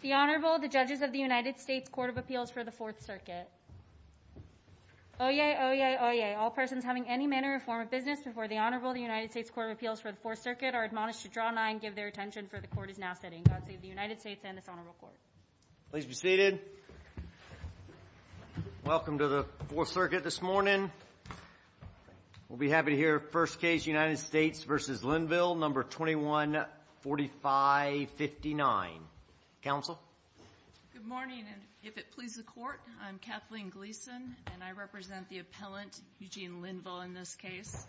The Honorable, the Judges of the United States Court of Appeals for the Fourth Circuit. Oyez, oyez, oyez, all persons having any manner or form of business before the Honorable, the United States Court of Appeals for the Fourth Circuit, are admonished to draw nines and give their attention, for the Court is now sitting. God save the United States and this Honorable Court. Please be seated. Welcome to the Fourth Circuit this morning. We'll be happy to hear first case, United States v. Linville, No. 214559. Counsel? Good morning, and if it pleases the Court, I'm Kathleen Gleason, and I represent the appellant, Eugene Linville, in this case.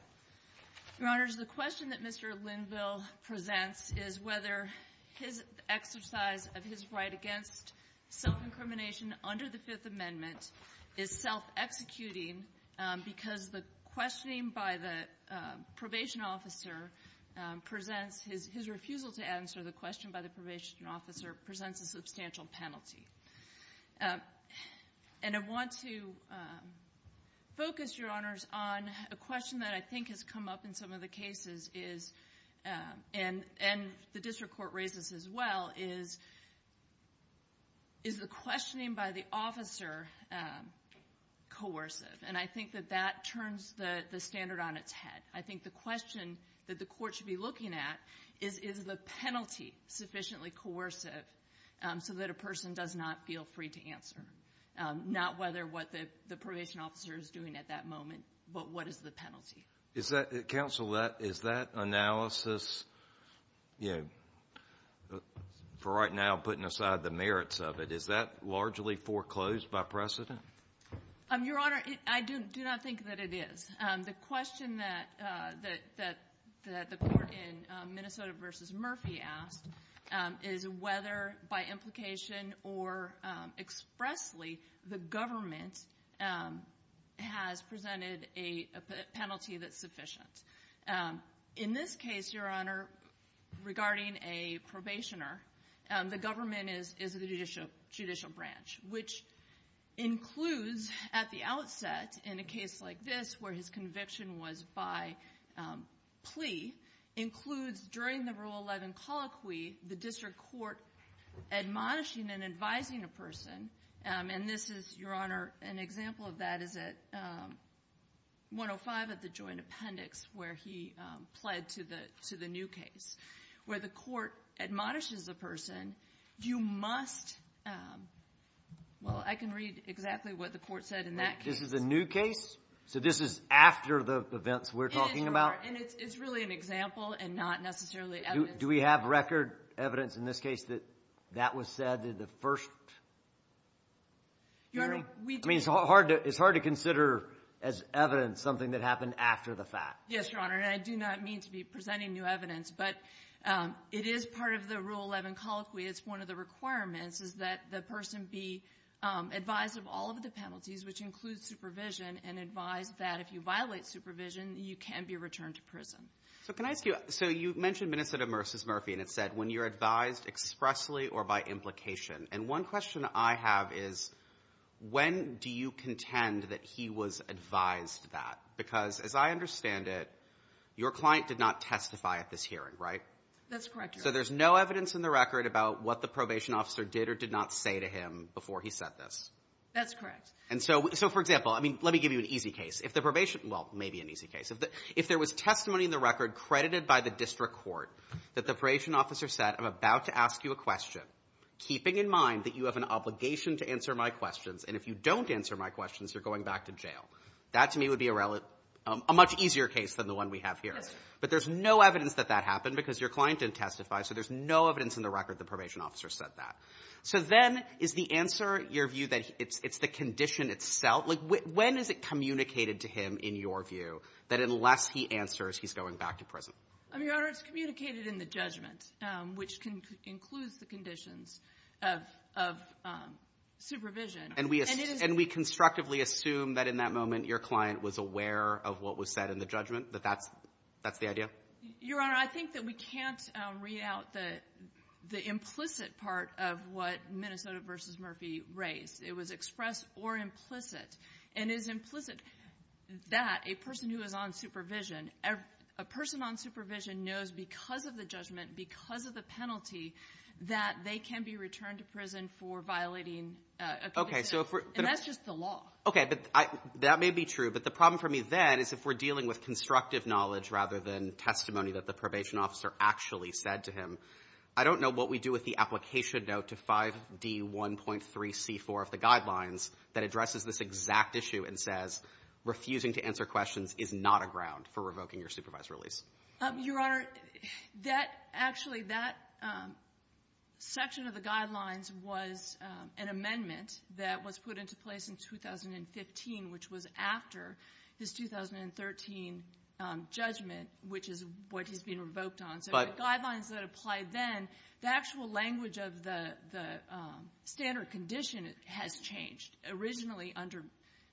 Your Honors, the question that Mr. Linville presents is whether his exercise of his right against self-incrimination under the Fifth Amendment is self-executing because the questioning by the probation officer presents his refusal to answer the question by the probation officer presents a substantial penalty. And I want to focus, Your Honors, on a question that I think has come up in some of the cases and the district court raises as well is, is the questioning by the officer coercive? And I think that that turns the standard on its head. I think the question that the court should be looking at is, is the penalty sufficiently coercive so that a person does not feel free to answer? Not whether what the probation officer is doing at that moment, but what is the penalty? Counsel, is that analysis, you know, for right now putting aside the merits of it, is that largely foreclosed by precedent? Your Honor, I do not think that it is. The question that the court in Minnesota v. Murphy asked is whether by implication or expressly the government has presented a penalty that's sufficient. In this case, Your Honor, regarding a probationer, the government is the judicial branch, which includes at the outset in a case like this where his conviction was by plea, includes during the Rule 11 colloquy the district court admonishing and advising a person. And this is, Your Honor, an example of that is at 105 at the Joint Appendix, where he pled to the new case, where the court admonishes the person, you must, well, I can read exactly what the court said in that case. This is a new case? So this is after the events we're talking about? And it's really an example and not necessarily evidence. Do we have record evidence in this case that that was said in the first hearing? Your Honor, we do. I mean, it's hard to consider as evidence something that happened after the fact. Yes, Your Honor, and I do not mean to be presenting new evidence. But it is part of the Rule 11 colloquy. It's one of the requirements is that the person be advised of all of the penalties, which includes supervision, and advised that if you violate supervision, you can be returned to prison. So can I ask you, so you mentioned Minnesota v. Murphy, and it said when you're advised expressly or by implication. And one question I have is when do you contend that he was advised that? Because as I understand it, your client did not testify at this hearing, right? That's correct, Your Honor. So there's no evidence in the record about what the probation officer did or did not say to him before he said this? That's correct. And so, for example, let me give you an easy case. Well, maybe an easy case. If there was testimony in the record credited by the district court that the probation officer said, I'm about to ask you a question, keeping in mind that you have an obligation to answer my questions, and if you don't answer my questions, you're going back to jail. That, to me, would be a much easier case than the one we have here. But there's no evidence that that happened because your client didn't testify, so there's no evidence in the record the probation officer said that. So then is the answer, your view, that it's the condition itself? Like when is it communicated to him, in your view, that unless he answers, he's going back to prison? Your Honor, it's communicated in the judgment, which includes the conditions of supervision. And we constructively assume that in that moment your client was aware of what was said in the judgment, that that's the idea? Your Honor, I think that we can't read out the implicit part of what Minnesota v. Murphy raised. It was expressed or implicit, and it is implicit that a person who is on supervision, a person on supervision knows because of the judgment, because of the penalty, that they can be returned to prison for violating a conviction. And that's just the law. Okay, but that may be true. But the problem for me then is if we're dealing with constructive knowledge rather than testimony that the probation officer actually said to him. I don't know what we do with the application note to 5D1.3c4 of the Guidelines that addresses this exact issue and says refusing to answer questions is not a ground for revoking your supervised release. Your Honor, that actually, that section of the Guidelines was an amendment that was put into place in 2015, which was after his 2013 judgment, which is what he's being revoked on. So the Guidelines that applied then, the actual language of the standard condition has changed. Originally, under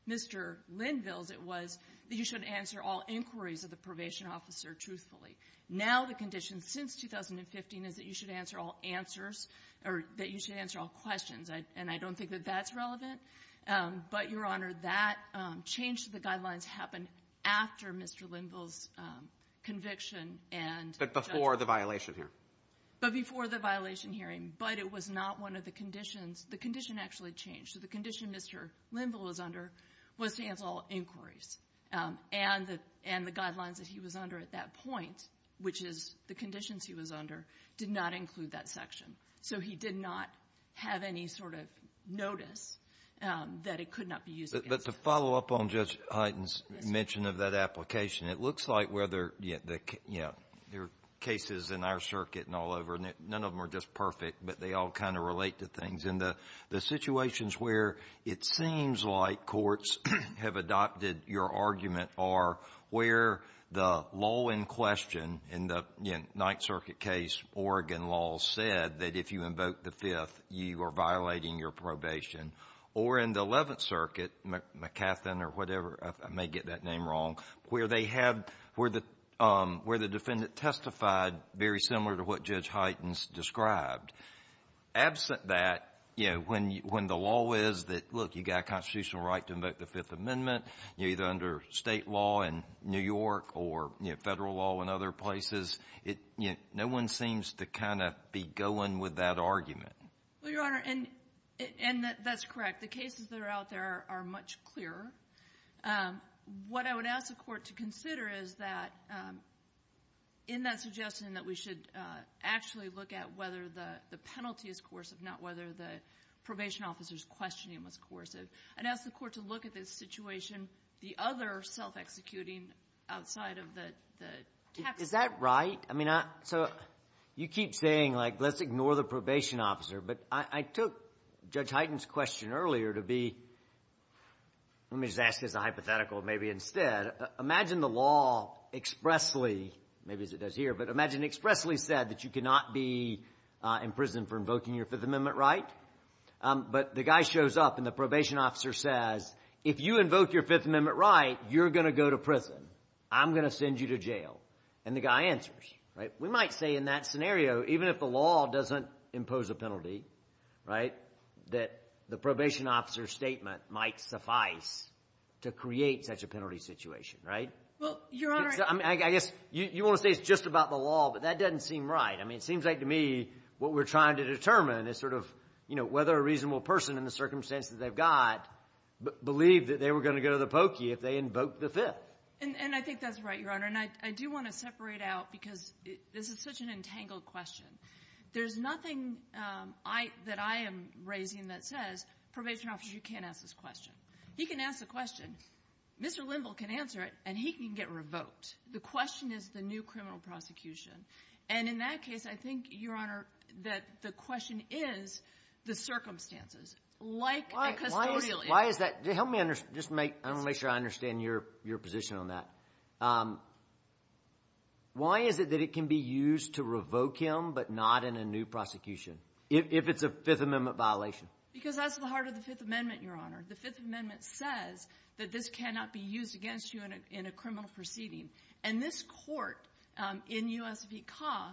Mr. Linville's, it was that you should answer all inquiries of the probation officer truthfully. Now the condition since 2015 is that you should answer all answers or that you should answer all questions. And I don't think that that's relevant. But, Your Honor, that change to the Guidelines happened after Mr. Linville's conviction and judgment. But before the violation hearing. But before the violation hearing. But it was not one of the conditions. The condition actually changed. So the condition Mr. Linville was under was to answer all inquiries. And the Guidelines that he was under at that point, which is the conditions he was under, did not include that section. So he did not have any sort of notice that it could not be used against him. Kennedy. But to follow up on Judge Hyten's mention of that application, it looks like whether the cases in our circuit and all over, none of them are just perfect, but they all kind of relate to things. And the situations where it seems like courts have adopted your argument are where the law in question in the Ninth Circuit case, Oregon law, said that if you invoke the Fifth, you are violating your probation. Or in the Eleventh Circuit, McCathin or whatever, I may get that name wrong, where they have the — where the defendant testified very similar to what Judge Hyten described. Absent that, you know, when the law is that, look, you've got a constitutional right to invoke the Fifth Amendment, either under State law in New York or, you know, Federal law in other places. No one seems to kind of be going with that argument. Well, Your Honor, and that's correct. The cases that are out there are much clearer. What I would ask the Court to consider is that in that suggestion that we should actually look at whether the penalty is coercive, not whether the probation officer's questioning was coercive, and ask the Court to look at this situation, the other self-executing outside of the — Is that right? I mean, so you keep saying, like, let's ignore the probation officer. But I took Judge Hyten's question earlier to be — let me just ask this hypothetical maybe instead. Imagine the law expressly — maybe as it does here, but imagine it expressly said that you cannot be in prison for invoking your Fifth Amendment right. But the guy shows up, and the probation officer says, if you invoke your Fifth Amendment right, you're going to go to prison. I'm going to send you to jail. And the guy answers, right? We might say in that scenario, even if the law doesn't impose a penalty, right, that the probation officer's statement might suffice to create such a penalty situation, right? Well, Your Honor — I guess you want to say it's just about the law, but that doesn't seem right. I mean, it seems like to me what we're trying to determine is sort of, you know, whether a reasonable person in the circumstances they've got believed that they were going to go to the pokey if they invoked the Fifth. And I think that's right, Your Honor. And I do want to separate out, because this is such an entangled question. There's nothing that I am raising that says probation officers, you can't ask this question. He can ask the question. Mr. Linville can answer it, and he can get revoked. The question is the new criminal prosecution. And in that case, I think, Your Honor, that the question is the circumstances. Like a custodial — Why is that? Help me understand. Just make — I want to make sure I understand your position on that. Why is it that it can be used to revoke him but not in a new prosecution, if it's a Fifth Amendment violation? Because that's the heart of the Fifth Amendment, Your Honor. The Fifth Amendment says that this cannot be used against you in a criminal proceeding. And this Court in U.S. v. CAW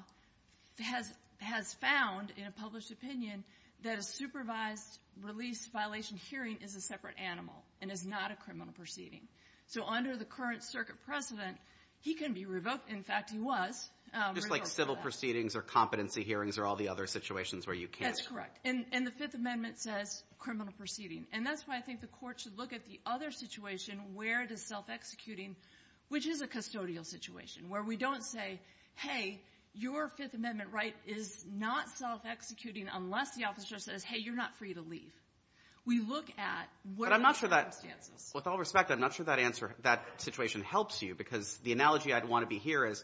has found in a published opinion that a supervised release violation hearing is a separate animal and is not a criminal proceeding. So under the current circuit precedent, he can be revoked. In fact, he was. Just like civil proceedings or competency hearings or all the other situations where you can't. That's correct. And the Fifth Amendment says criminal proceeding. And that's why I think the Court should look at the other situation where it is self-executing, which is a custodial situation, where we don't say, hey, your Fifth Amendment right is not self-executing unless the officer says, hey, you're not free to leave. We look at what are the circumstances. But I'm not sure that — with all respect, I'm not sure that answer — that situation helps you, because the analogy I'd want to be here is,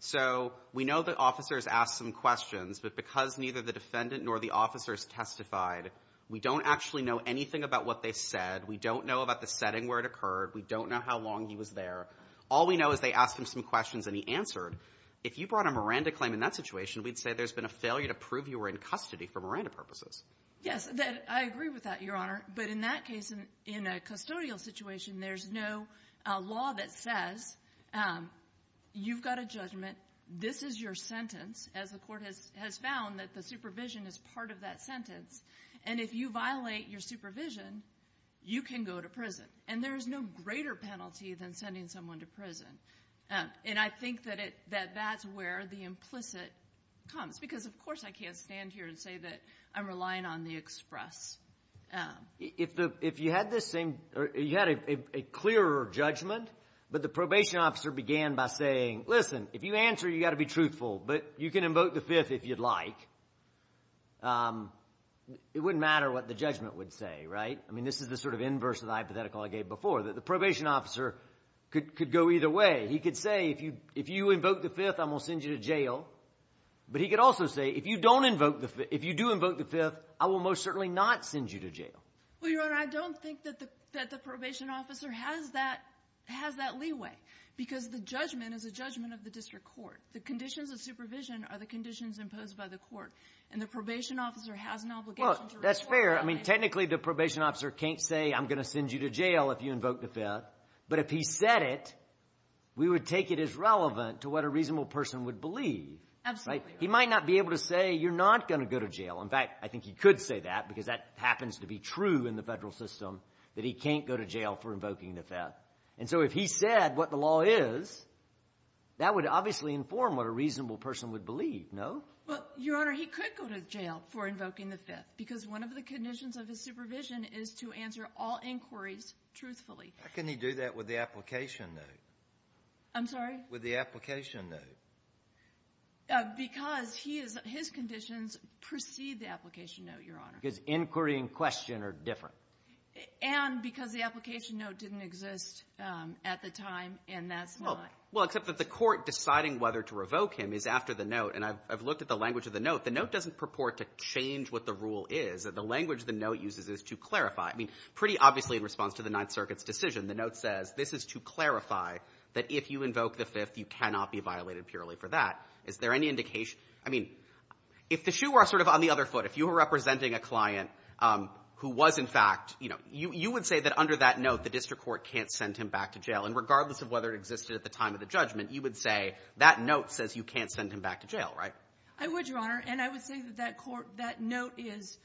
so we know the officer has asked some questions. But because neither the defendant nor the officer has testified, we don't actually know anything about what they said. We don't know about the setting where it occurred. We don't know how long he was there. All we know is they asked him some questions and he answered. If you brought a Miranda claim in that situation, we'd say there's been a failure to prove you were in custody for Miranda purposes. Yes. I agree with that, Your Honor. But in that case, in a custodial situation, there's no law that says you've got a judgment, this is your sentence, as the Court has found, that the supervision is part of that sentence. And if you violate your supervision, you can go to prison. And there's no greater penalty than sending someone to prison. And I think that that's where the implicit comes. Because, of course, I can't stand here and say that I'm relying on the express. If you had this same — you had a clearer judgment, but the probation officer began by saying, listen, if you answer, you've got to be truthful, but you can invoke the It wouldn't matter what the judgment would say, right? I mean, this is the sort of inverse of the hypothetical I gave before, that the probation officer could go either way. He could say, if you invoke the Fifth, I'm going to send you to jail. But he could also say, if you do invoke the Fifth, I will most certainly not send you to jail. Well, Your Honor, I don't think that the probation officer has that leeway. Because the judgment is a judgment of the district court. The conditions of supervision are the conditions imposed by the court. And the probation officer has an obligation to report — Well, that's fair. I mean, technically, the probation officer can't say, I'm going to send you to jail if you invoke the Fifth. But if he said it, we would take it as relevant to what a reasonable person would believe, right? Absolutely. He might not be able to say, you're not going to go to jail. In fact, I think he could say that, because that happens to be true in the Federal system, that he can't go to jail for invoking the Fifth. And so if he said what the law is, that would obviously inform what a reasonable person would believe, no? Well, Your Honor, he could go to jail for invoking the Fifth, because one of the conditions of his supervision is to answer all inquiries truthfully. How can he do that with the application note? I'm sorry? With the application note. Because he is — his conditions precede the application note, Your Honor. Because inquiry and question are different. And because the application note didn't exist at the time, and that's not — Well, except that the court deciding whether to revoke him is after the note. And I've looked at the language of the note. The note doesn't purport to change what the rule is. The language the note uses is to clarify. I mean, pretty obviously in response to the Ninth Circuit's decision, the note says this is to clarify that if you invoke the Fifth, you cannot be violated purely for that. Is there any indication — I mean, if the shoe were sort of on the other foot, if you were representing a client who was, in fact — you know, you would say that under that note, the district court can't send him back to jail. And regardless of whether it existed at the time of the judgment, you would say that under that note says you can't send him back to jail, right? I would, Your Honor. And I would say that that court — that note is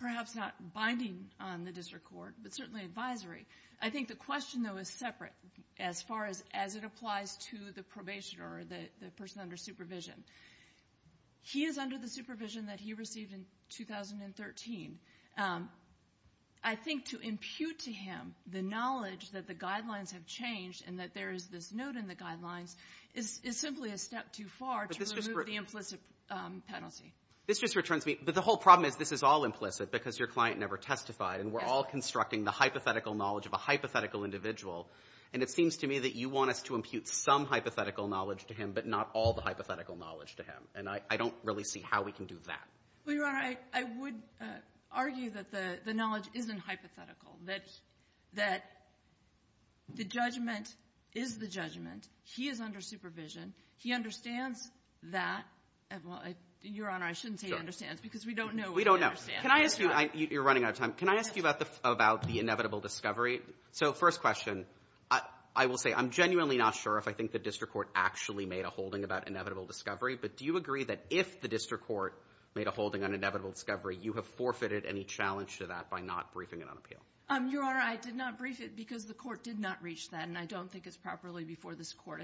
perhaps not binding on the district court, but certainly advisory. I think the question, though, is separate as far as it applies to the probationer or the person under supervision. He is under the supervision that he received in 2013. I think to impute to him the knowledge that the guidelines have changed and that there is this note in the guidelines is simply a step too far to remove the implicit penalty. This just returns me — but the whole problem is this is all implicit because your client never testified, and we're all constructing the hypothetical knowledge of a hypothetical individual. And it seems to me that you want us to impute some hypothetical knowledge to him, but not all the hypothetical knowledge to him. And I don't really see how we can do that. Well, Your Honor, I would argue that the knowledge isn't hypothetical, that the judgment is the judgment. He is under supervision. He understands that. Well, Your Honor, I shouldn't say understands because we don't know what he understands. We don't know. Can I ask you — you're running out of time. Can I ask you about the inevitable discovery? So first question, I will say I'm genuinely not sure if I think the district court actually made a holding about inevitable discovery, but do you agree that if the district court made a holding on inevitable discovery, you have forfeited any challenge to that by not briefing it on appeal? Your Honor, I did not brief it because the court did not reach that, and I don't think it's properly before this court.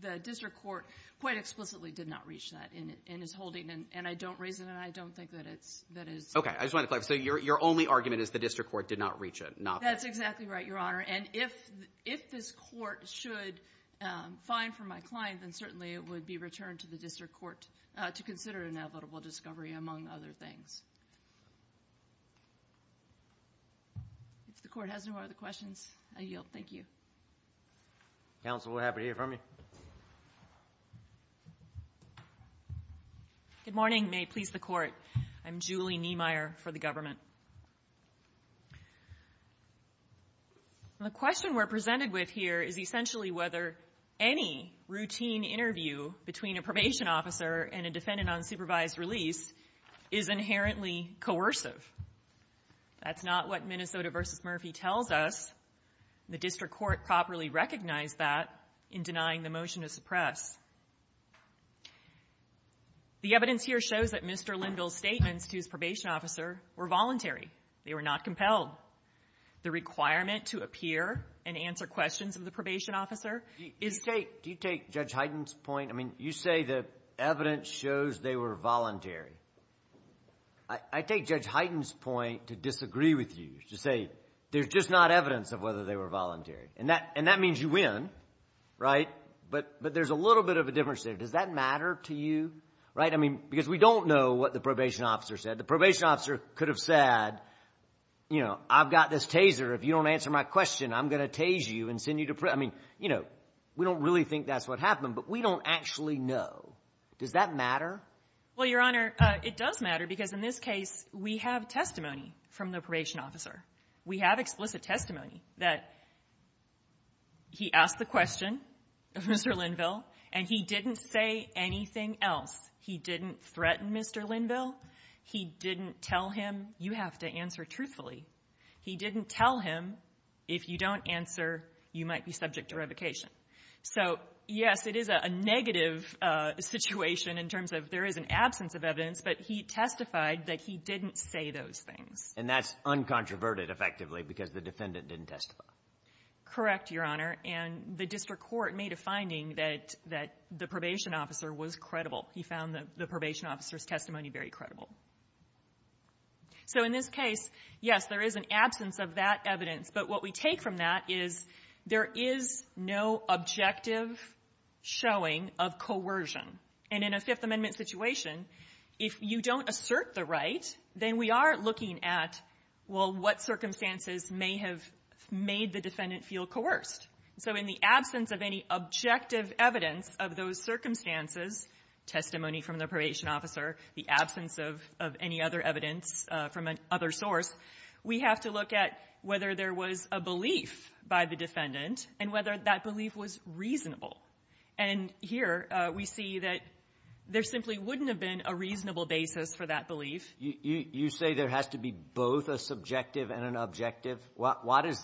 The district court quite explicitly did not reach that in its holding, and I don't raise it, and I don't think that it's — Okay. I just wanted to clarify. So your only argument is the district court did not reach it, not the — That's exactly right, Your Honor. And if this court should find for my client, then certainly it would be returned to the district court to consider inevitable discovery, among other things. If the court has no other questions, I yield. Thank you. Counsel, we're happy to hear from you. Good morning. May it please the Court. I'm Julie Niemeyer for the government. The question we're presented with here is essentially whether any routine interview between a probation officer and a defendant on supervised release is inherently coercive. That's not what Minnesota v. Murphy tells us. The district court properly recognized that in denying the motion to suppress. The evidence here shows that Mr. Linville's statements to his probation officer were voluntary. They were not compelled. The requirement to appear and answer questions of the probation officer is — Judge Hyten's point — I mean, you say the evidence shows they were voluntary. I take Judge Hyten's point to disagree with you, to say there's just not evidence of whether they were voluntary. And that means you win, right? But there's a little bit of a difference there. Does that matter to you, right? I mean, because we don't know what the probation officer said. The probation officer could have said, you know, I've got this taser. If you don't answer my question, I'm going to tase you and send you to — I mean, you know, we don't really think that's what happened, but we don't actually know. Does that matter? Well, Your Honor, it does matter, because in this case, we have testimony from the probation officer. We have explicit testimony that he asked the question of Mr. Linville, and he didn't say anything else. He didn't threaten Mr. Linville. He didn't tell him, you have to answer truthfully. He didn't tell him, if you don't answer, you might be subject to revocation. So, yes, it is a negative situation in terms of there is an absence of evidence, but he testified that he didn't say those things. And that's uncontroverted, effectively, because the defendant didn't testify. Correct, Your Honor. And the district court made a finding that the probation officer was credible. He found the probation officer's testimony very credible. So in this case, yes, there is an absence of that evidence. But what we take from that is there is no objective showing of coercion. And in a Fifth Amendment situation, if you don't assert the right, then we are looking at, well, what circumstances may have made the defendant feel coerced. So in the absence of any objective evidence of those circumstances, testimony from the probation officer, the absence of any other evidence from another source, we have to look at whether there was a belief by the defendant and whether that belief was reasonable. And here we see that there simply wouldn't have been a reasonable basis for that belief. You say there has to be both a subjective and an objective. What is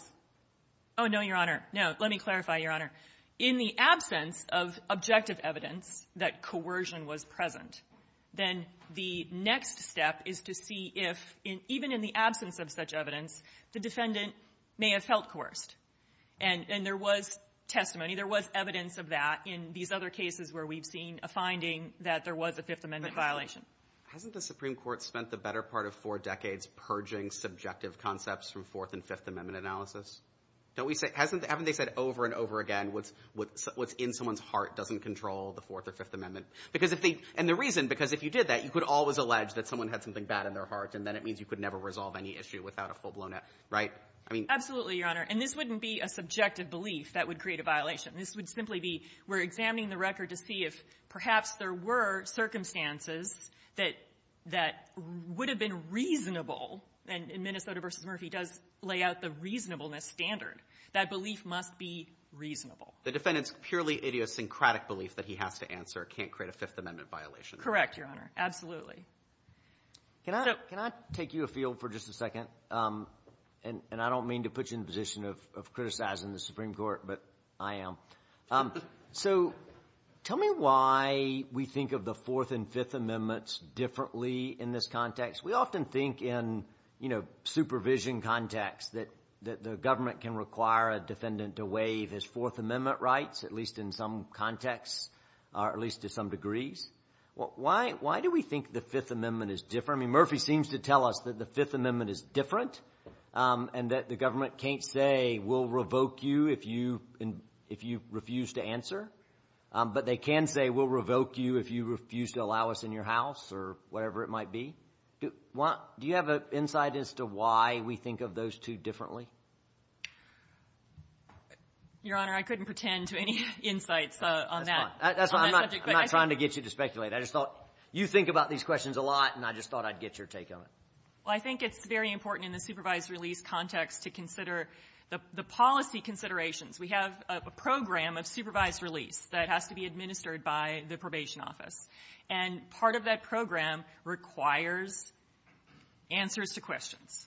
the ---- No. Let me clarify, Your Honor. In the absence of objective evidence that coercion was present, then the next step is to see if, even in the absence of such evidence, the defendant may have felt coerced. And there was testimony. There was evidence of that in these other cases where we've seen a finding that there was a Fifth Amendment violation. Hasn't the Supreme Court spent the better part of four decades purging subjective concepts from Fourth and Fifth Amendment analysis? Don't we say ---- haven't they said over and over again what's in someone's heart doesn't control the Fourth or Fifth Amendment? And the reason, because if you did that, you could always allege that someone had something bad in their heart, and then it means you could never resolve any issue without a full-blown ---- right? I mean ---- Absolutely, Your Honor. And this wouldn't be a subjective belief that would create a violation. This would simply be we're examining the record to see if perhaps there were circumstances that would have been reasonable, and in Minnesota v. Murphy does lay out the reasonableness as a standard. That belief must be reasonable. The defendant's purely idiosyncratic belief that he has to answer can't create a Fifth Amendment violation. Correct, Your Honor. Absolutely. Can I take you afield for just a second? And I don't mean to put you in the position of criticizing the Supreme Court, but I am. So tell me why we think of the Fourth and Fifth Amendments differently in this context. We often think in, you know, supervision context that the government can require a defendant to waive his Fourth Amendment rights, at least in some context, or at least to some degrees. Why do we think the Fifth Amendment is different? I mean, Murphy seems to tell us that the Fifth Amendment is different and that the government can't say we'll revoke you if you refuse to answer, but they can say we'll revoke you if you refuse to allow us in your house or whatever it might be. Do you have an insight as to why we think of those two differently? Your Honor, I couldn't pretend to have any insights on that subject. That's fine. I'm not trying to get you to speculate. I just thought you think about these questions a lot, and I just thought I'd get your take on it. Well, I think it's very important in the supervised release context to consider the policy considerations. We have a program of supervised release that has to be administered by the probation office, and part of that program requires answers to questions.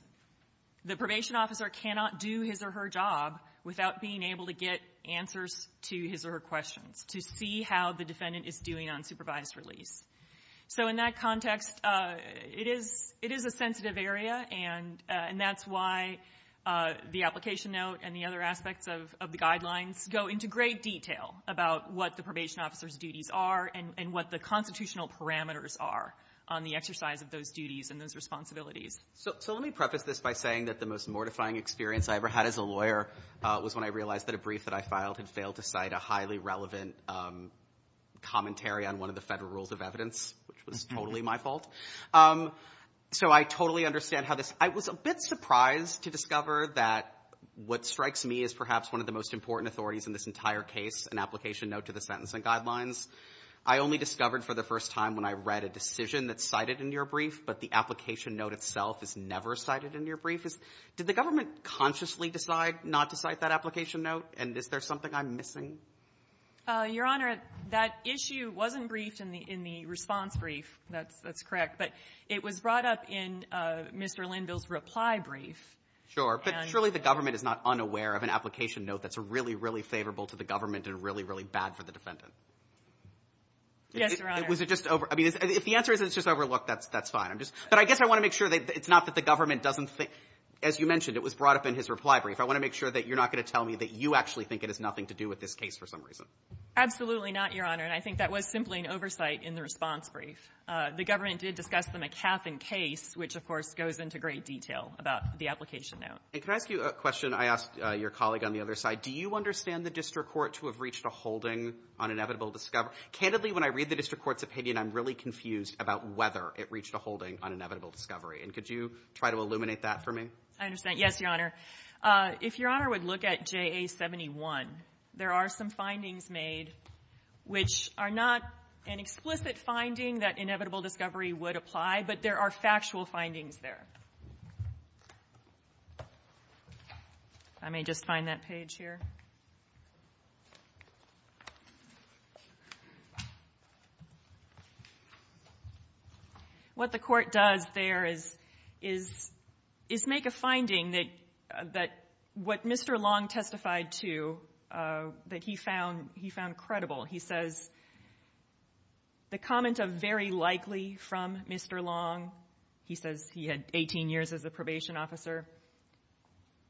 The probation officer cannot do his or her job without being able to get answers to his or her questions, to see how the defendant is doing on supervised release. So in that context, it is a sensitive area, and that's why the application note and the other aspects of the guidelines go into great detail about what the probation officer's duties are and what the constitutional parameters are on the exercise of those duties and those responsibilities. So let me preface this by saying that the most mortifying experience I ever had as a lawyer was when I realized that a brief that I filed had failed to cite a highly relevant commentary on one of the federal rules of evidence, which was totally my fault. So I totally understand how this — I was a bit surprised to discover that what strikes me as perhaps one of the most important authorities in this entire case, an application note to the Sentencing Guidelines, I only discovered for the first time when I read a decision that's cited in your brief, but the application note itself is never cited in your brief. Did the government consciously decide not to cite that application note, and is there something I'm missing? Your Honor, that issue wasn't briefed in the response brief. That's correct. But it was brought up in Mr. Linville's reply brief. Sure. But surely the government is not unaware of an application note that's really, really favorable to the government and really, really bad for the defendant. Yes, Your Honor. Was it just — I mean, if the answer is it's just overlooked, that's fine. I'm just — but I guess I want to make sure that it's not that the government doesn't think — as you mentioned, it was brought up in his reply brief. I want to make sure that you're not going to tell me that you actually think it has been misplaced for some reason. Absolutely not, Your Honor. And I think that was simply an oversight in the response brief. The government did discuss the McCaffin case, which, of course, goes into great detail about the application note. And can I ask you a question I asked your colleague on the other side? Do you understand the district court to have reached a holding on inevitable discovery? Candidly, when I read the district court's opinion, I'm really confused about whether it reached a holding on inevitable discovery. And could you try to illuminate that for me? I understand. Yes, Your Honor. If Your Honor would look at JA-71, there are some findings made, which are not an explicit finding that inevitable discovery would apply, but there are factual findings there. If I may just find that page here. What the court does there is make a finding that what Mr. Long testified to, that he found credible. He says the comment of very likely from Mr. Long, he says he had 18 years as a district court, and he said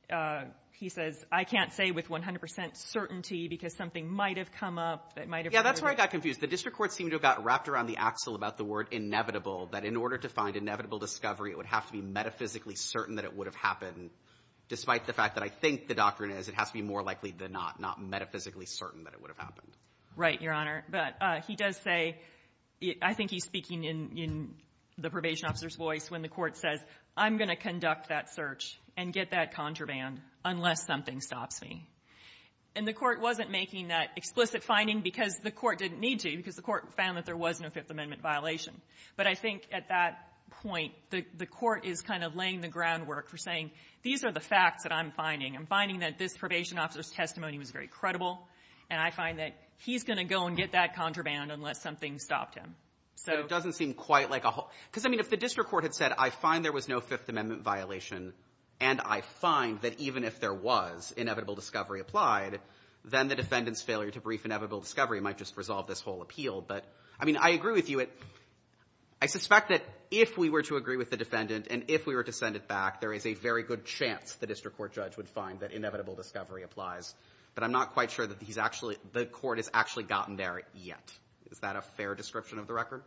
that he had a certain degree of certainty because something might have come up. Yeah, that's where I got confused. The district court seemed to have got wrapped around the axle about the word inevitable, that in order to find inevitable discovery, it would have to be metaphysically certain that it would have happened. Despite the fact that I think the doctrine is it has to be more likely than not, not metaphysically certain that it would have happened. Right, Your Honor. But he does say, I think he's speaking in the probation officer's voice when the court wasn't making that explicit finding because the court didn't need to, because the court found that there was no Fifth Amendment violation. But I think at that point, the court is kind of laying the groundwork for saying these are the facts that I'm finding. I'm finding that this probation officer's testimony was very credible, and I find that he's going to go and get that contraband unless something stopped him. So — But it doesn't seem quite like a whole — because, I mean, if the district court had said, I find there was no Fifth Amendment violation, and I find that even if there was, inevitable discovery applied, then the defendant's failure to brief inevitable discovery might just resolve this whole appeal. But, I mean, I agree with you. I suspect that if we were to agree with the defendant and if we were to send it back, there is a very good chance the district court judge would find that inevitable discovery applies. But I'm not quite sure that he's actually — the court has actually gotten there yet. Is that a fair description of the record?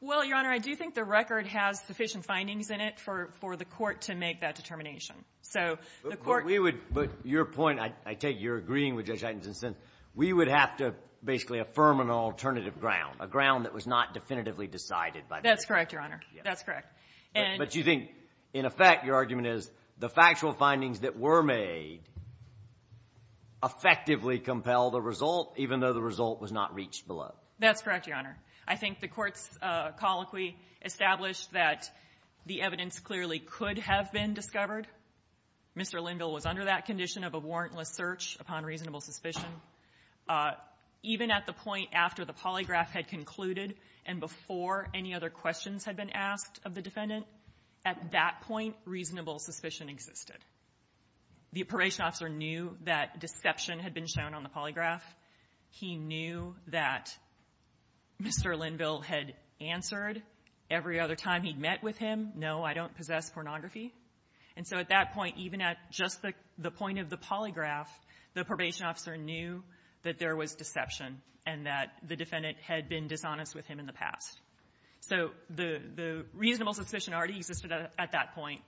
Well, Your Honor, I do think the record has sufficient findings in it for the court to make that determination. So the court — But we would — but your point, I take your agreeing with Judge Heitens in a sense, we would have to basically affirm an alternative ground, a ground that was not definitively decided by the district court. That's correct, Your Honor. That's correct. But you think, in effect, your argument is the factual findings that were made effectively compel the result, even though the result was not reached below. That's correct, Your Honor. I think the Court's colloquy established that the evidence clearly could have been discovered. Mr. Linville was under that condition of a warrantless search upon reasonable suspicion. Even at the point after the polygraph had concluded and before any other questions had been asked of the defendant, at that point, reasonable suspicion existed. The Apparation Officer knew that deception had been shown on the polygraph. He knew that Mr. Linville had answered every other time he'd met with him, no, I don't possess pornography. And so at that point, even at just the point of the polygraph, the Probation Officer knew that there was deception and that the defendant had been dishonest with him in the past. So the reasonable suspicion already existed at that point.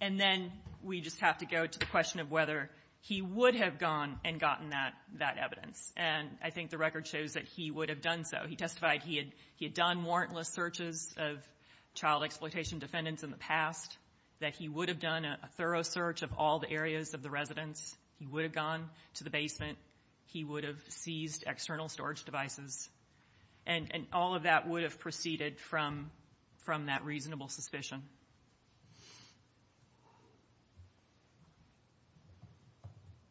And then we just have to go to the question of whether he would have gone and gotten that evidence. And I think the record shows that he would have done so. He testified he had done warrantless searches of child exploitation defendants in the past, that he would have done a thorough search of all the areas of the residence. He would have gone to the basement. He would have seized external storage devices. And all of that would have proceeded from that reasonable suspicion.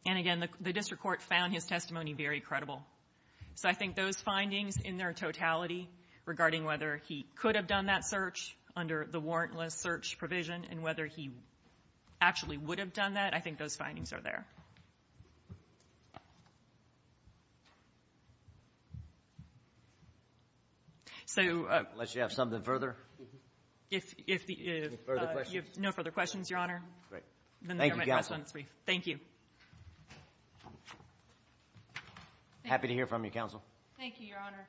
And again, the district court found his testimony very credible. So I think those findings in their totality regarding whether he could have done that search under the warrantless search provision and whether he actually would have done that, I think those findings are there. So... Unless you have something further? If the... Further questions? No further questions, Your Honor. Great. Thank you, Counsel. Thank you. Happy to hear from you, Counsel. Thank you, Your Honor.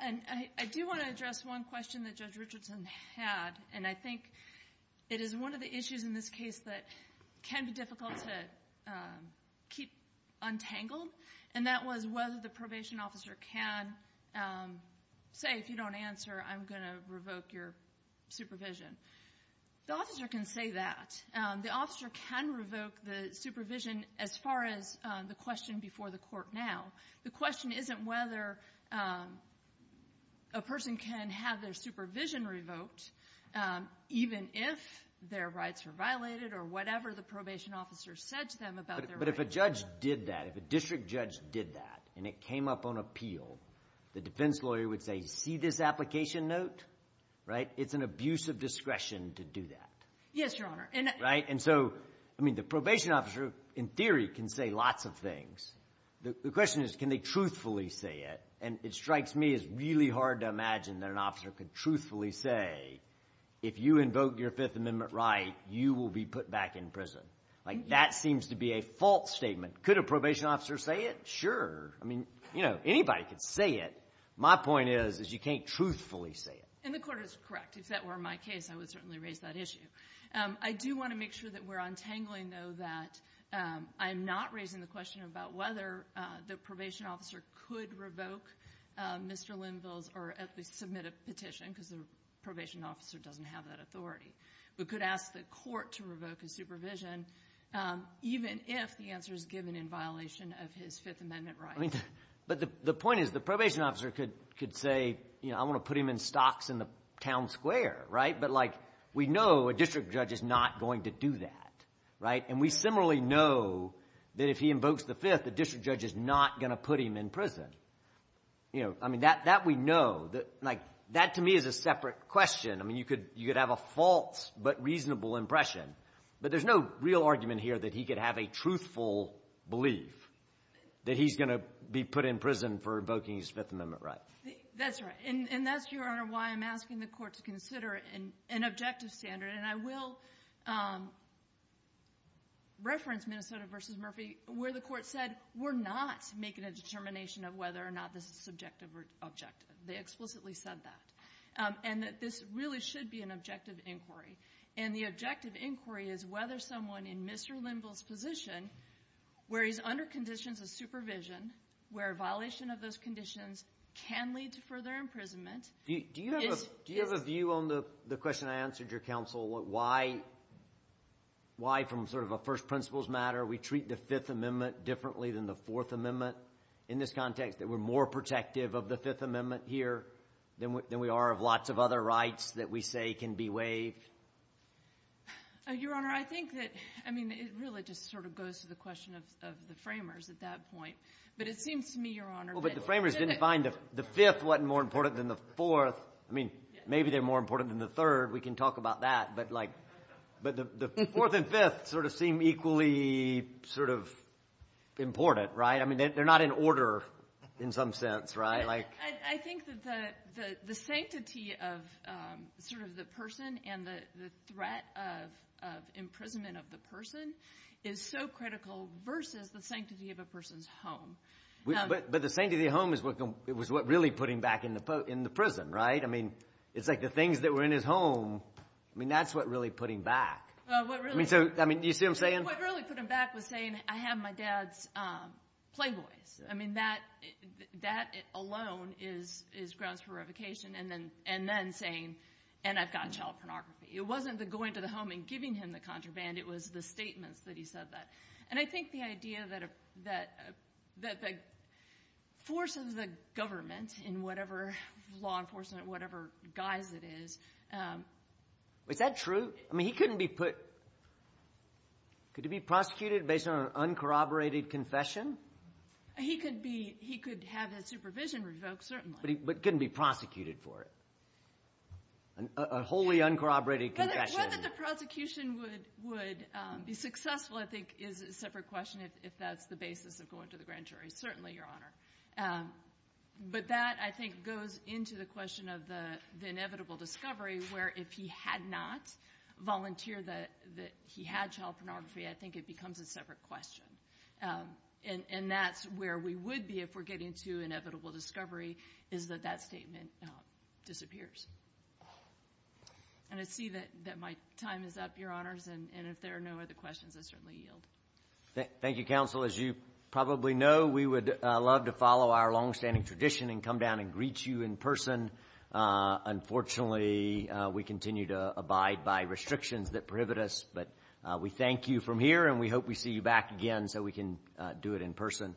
And I do want to address one question that Judge Richardson had, and I think it is one of the issues in this case that can be difficult to keep untangled, and that was whether the probation officer can say, if you don't answer, I'm going to revoke your supervision. The officer can say that. The officer can revoke the supervision as far as the question before the court now. The question isn't whether a person can have their supervision revoked even if their rights are violated or whatever the probation officer said to them about their rights. But if a judge did that, if a district judge did that, and it came up on appeal, the defense lawyer would say, see this application note? Right? It's an abuse of discretion to do that. Yes, Your Honor. Right? And so, I mean, the probation officer, in theory, can say lots of things. The question is, can they truthfully say it? And it strikes me as really hard to truthfully say, if you invoke your Fifth Amendment right, you will be put back in prison. Like, that seems to be a false statement. Could a probation officer say it? Sure. I mean, you know, anybody could say it. My point is, is you can't truthfully say it. And the Court is correct. If that were my case, I would certainly raise that issue. I do want to make sure that we're untangling, though, that I'm not raising the because the probation officer doesn't have that authority. We could ask the Court to revoke his supervision, even if the answer is given in violation of his Fifth Amendment right. But the point is, the probation officer could say, you know, I want to put him in stocks in the town square. Right? But, like, we know a district judge is not going to do that. Right? And we similarly know that if he invokes the Fifth, the district judge is not going to put him in prison. You know, I mean, that we know. Like, that to me is a separate question. I mean, you could have a false but reasonable impression. But there's no real argument here that he could have a truthful belief that he's going to be put in prison for invoking his Fifth Amendment right. That's right. And that's, Your Honor, why I'm asking the Court to consider an objective standard. And I will reference Minnesota v. Murphy where the Court said, we're not making a determination of whether or not this is subjective or objective. They explicitly said that. And that this really should be an objective inquiry. And the objective inquiry is whether someone in Mr. Linville's position, where he's under conditions of supervision, where a violation of those conditions can lead to further imprisonment. Do you have a view on the question I answered, Your Counsel, why from sort of a first principles matter we treat the Fifth Amendment differently than the Fourth Amendment in this context, that we're more protective of the Fifth Amendment here than we are of lots of other rights that we say can be waived? Your Honor, I think that, I mean, it really just sort of goes to the question of the framers at that point. But it seems to me, Your Honor, that— I mean, maybe they're more important than the Third. We can talk about that. But the Fourth and Fifth sort of seem equally sort of important, right? I mean, they're not in order in some sense, right? I think that the sanctity of sort of the person and the threat of imprisonment of the person is so critical versus the sanctity of a person's home. But the sanctity of the home is what really put him back in the prison, right? I mean, it's like the things that were in his home, I mean, that's what really put him back. I mean, do you see what I'm saying? What really put him back was saying, I have my dad's Playboys. I mean, that alone is grounds for revocation, and then saying, and I've got child pornography. It wasn't the going to the home and giving him the contraband. It was the statements that he said that. And I think the idea that the force of the government in whatever law enforcement, whatever guise it is. Is that true? I mean, he couldn't be put – could he be prosecuted based on an uncorroborated confession? He could be – he could have his supervision revoked, certainly. But he couldn't be prosecuted for it, a wholly uncorroborated confession. Whether the prosecution would be successful, I think, is a separate question, if that's the basis of going to the grand jury. Certainly, Your Honor. But that, I think, goes into the question of the inevitable discovery, where if he had not volunteered that he had child pornography, I think it becomes a separate question. And that's where we would be if we're getting to inevitable discovery, is that that statement disappears. And I see that my time is up, Your Honors. And if there are no other questions, I certainly yield. Thank you, Counsel. As you probably know, we would love to follow our longstanding tradition and come down and greet you in person. Unfortunately, we continue to abide by restrictions that prohibit us. But we thank you from here, and we hope we see you back again so we can do it in person.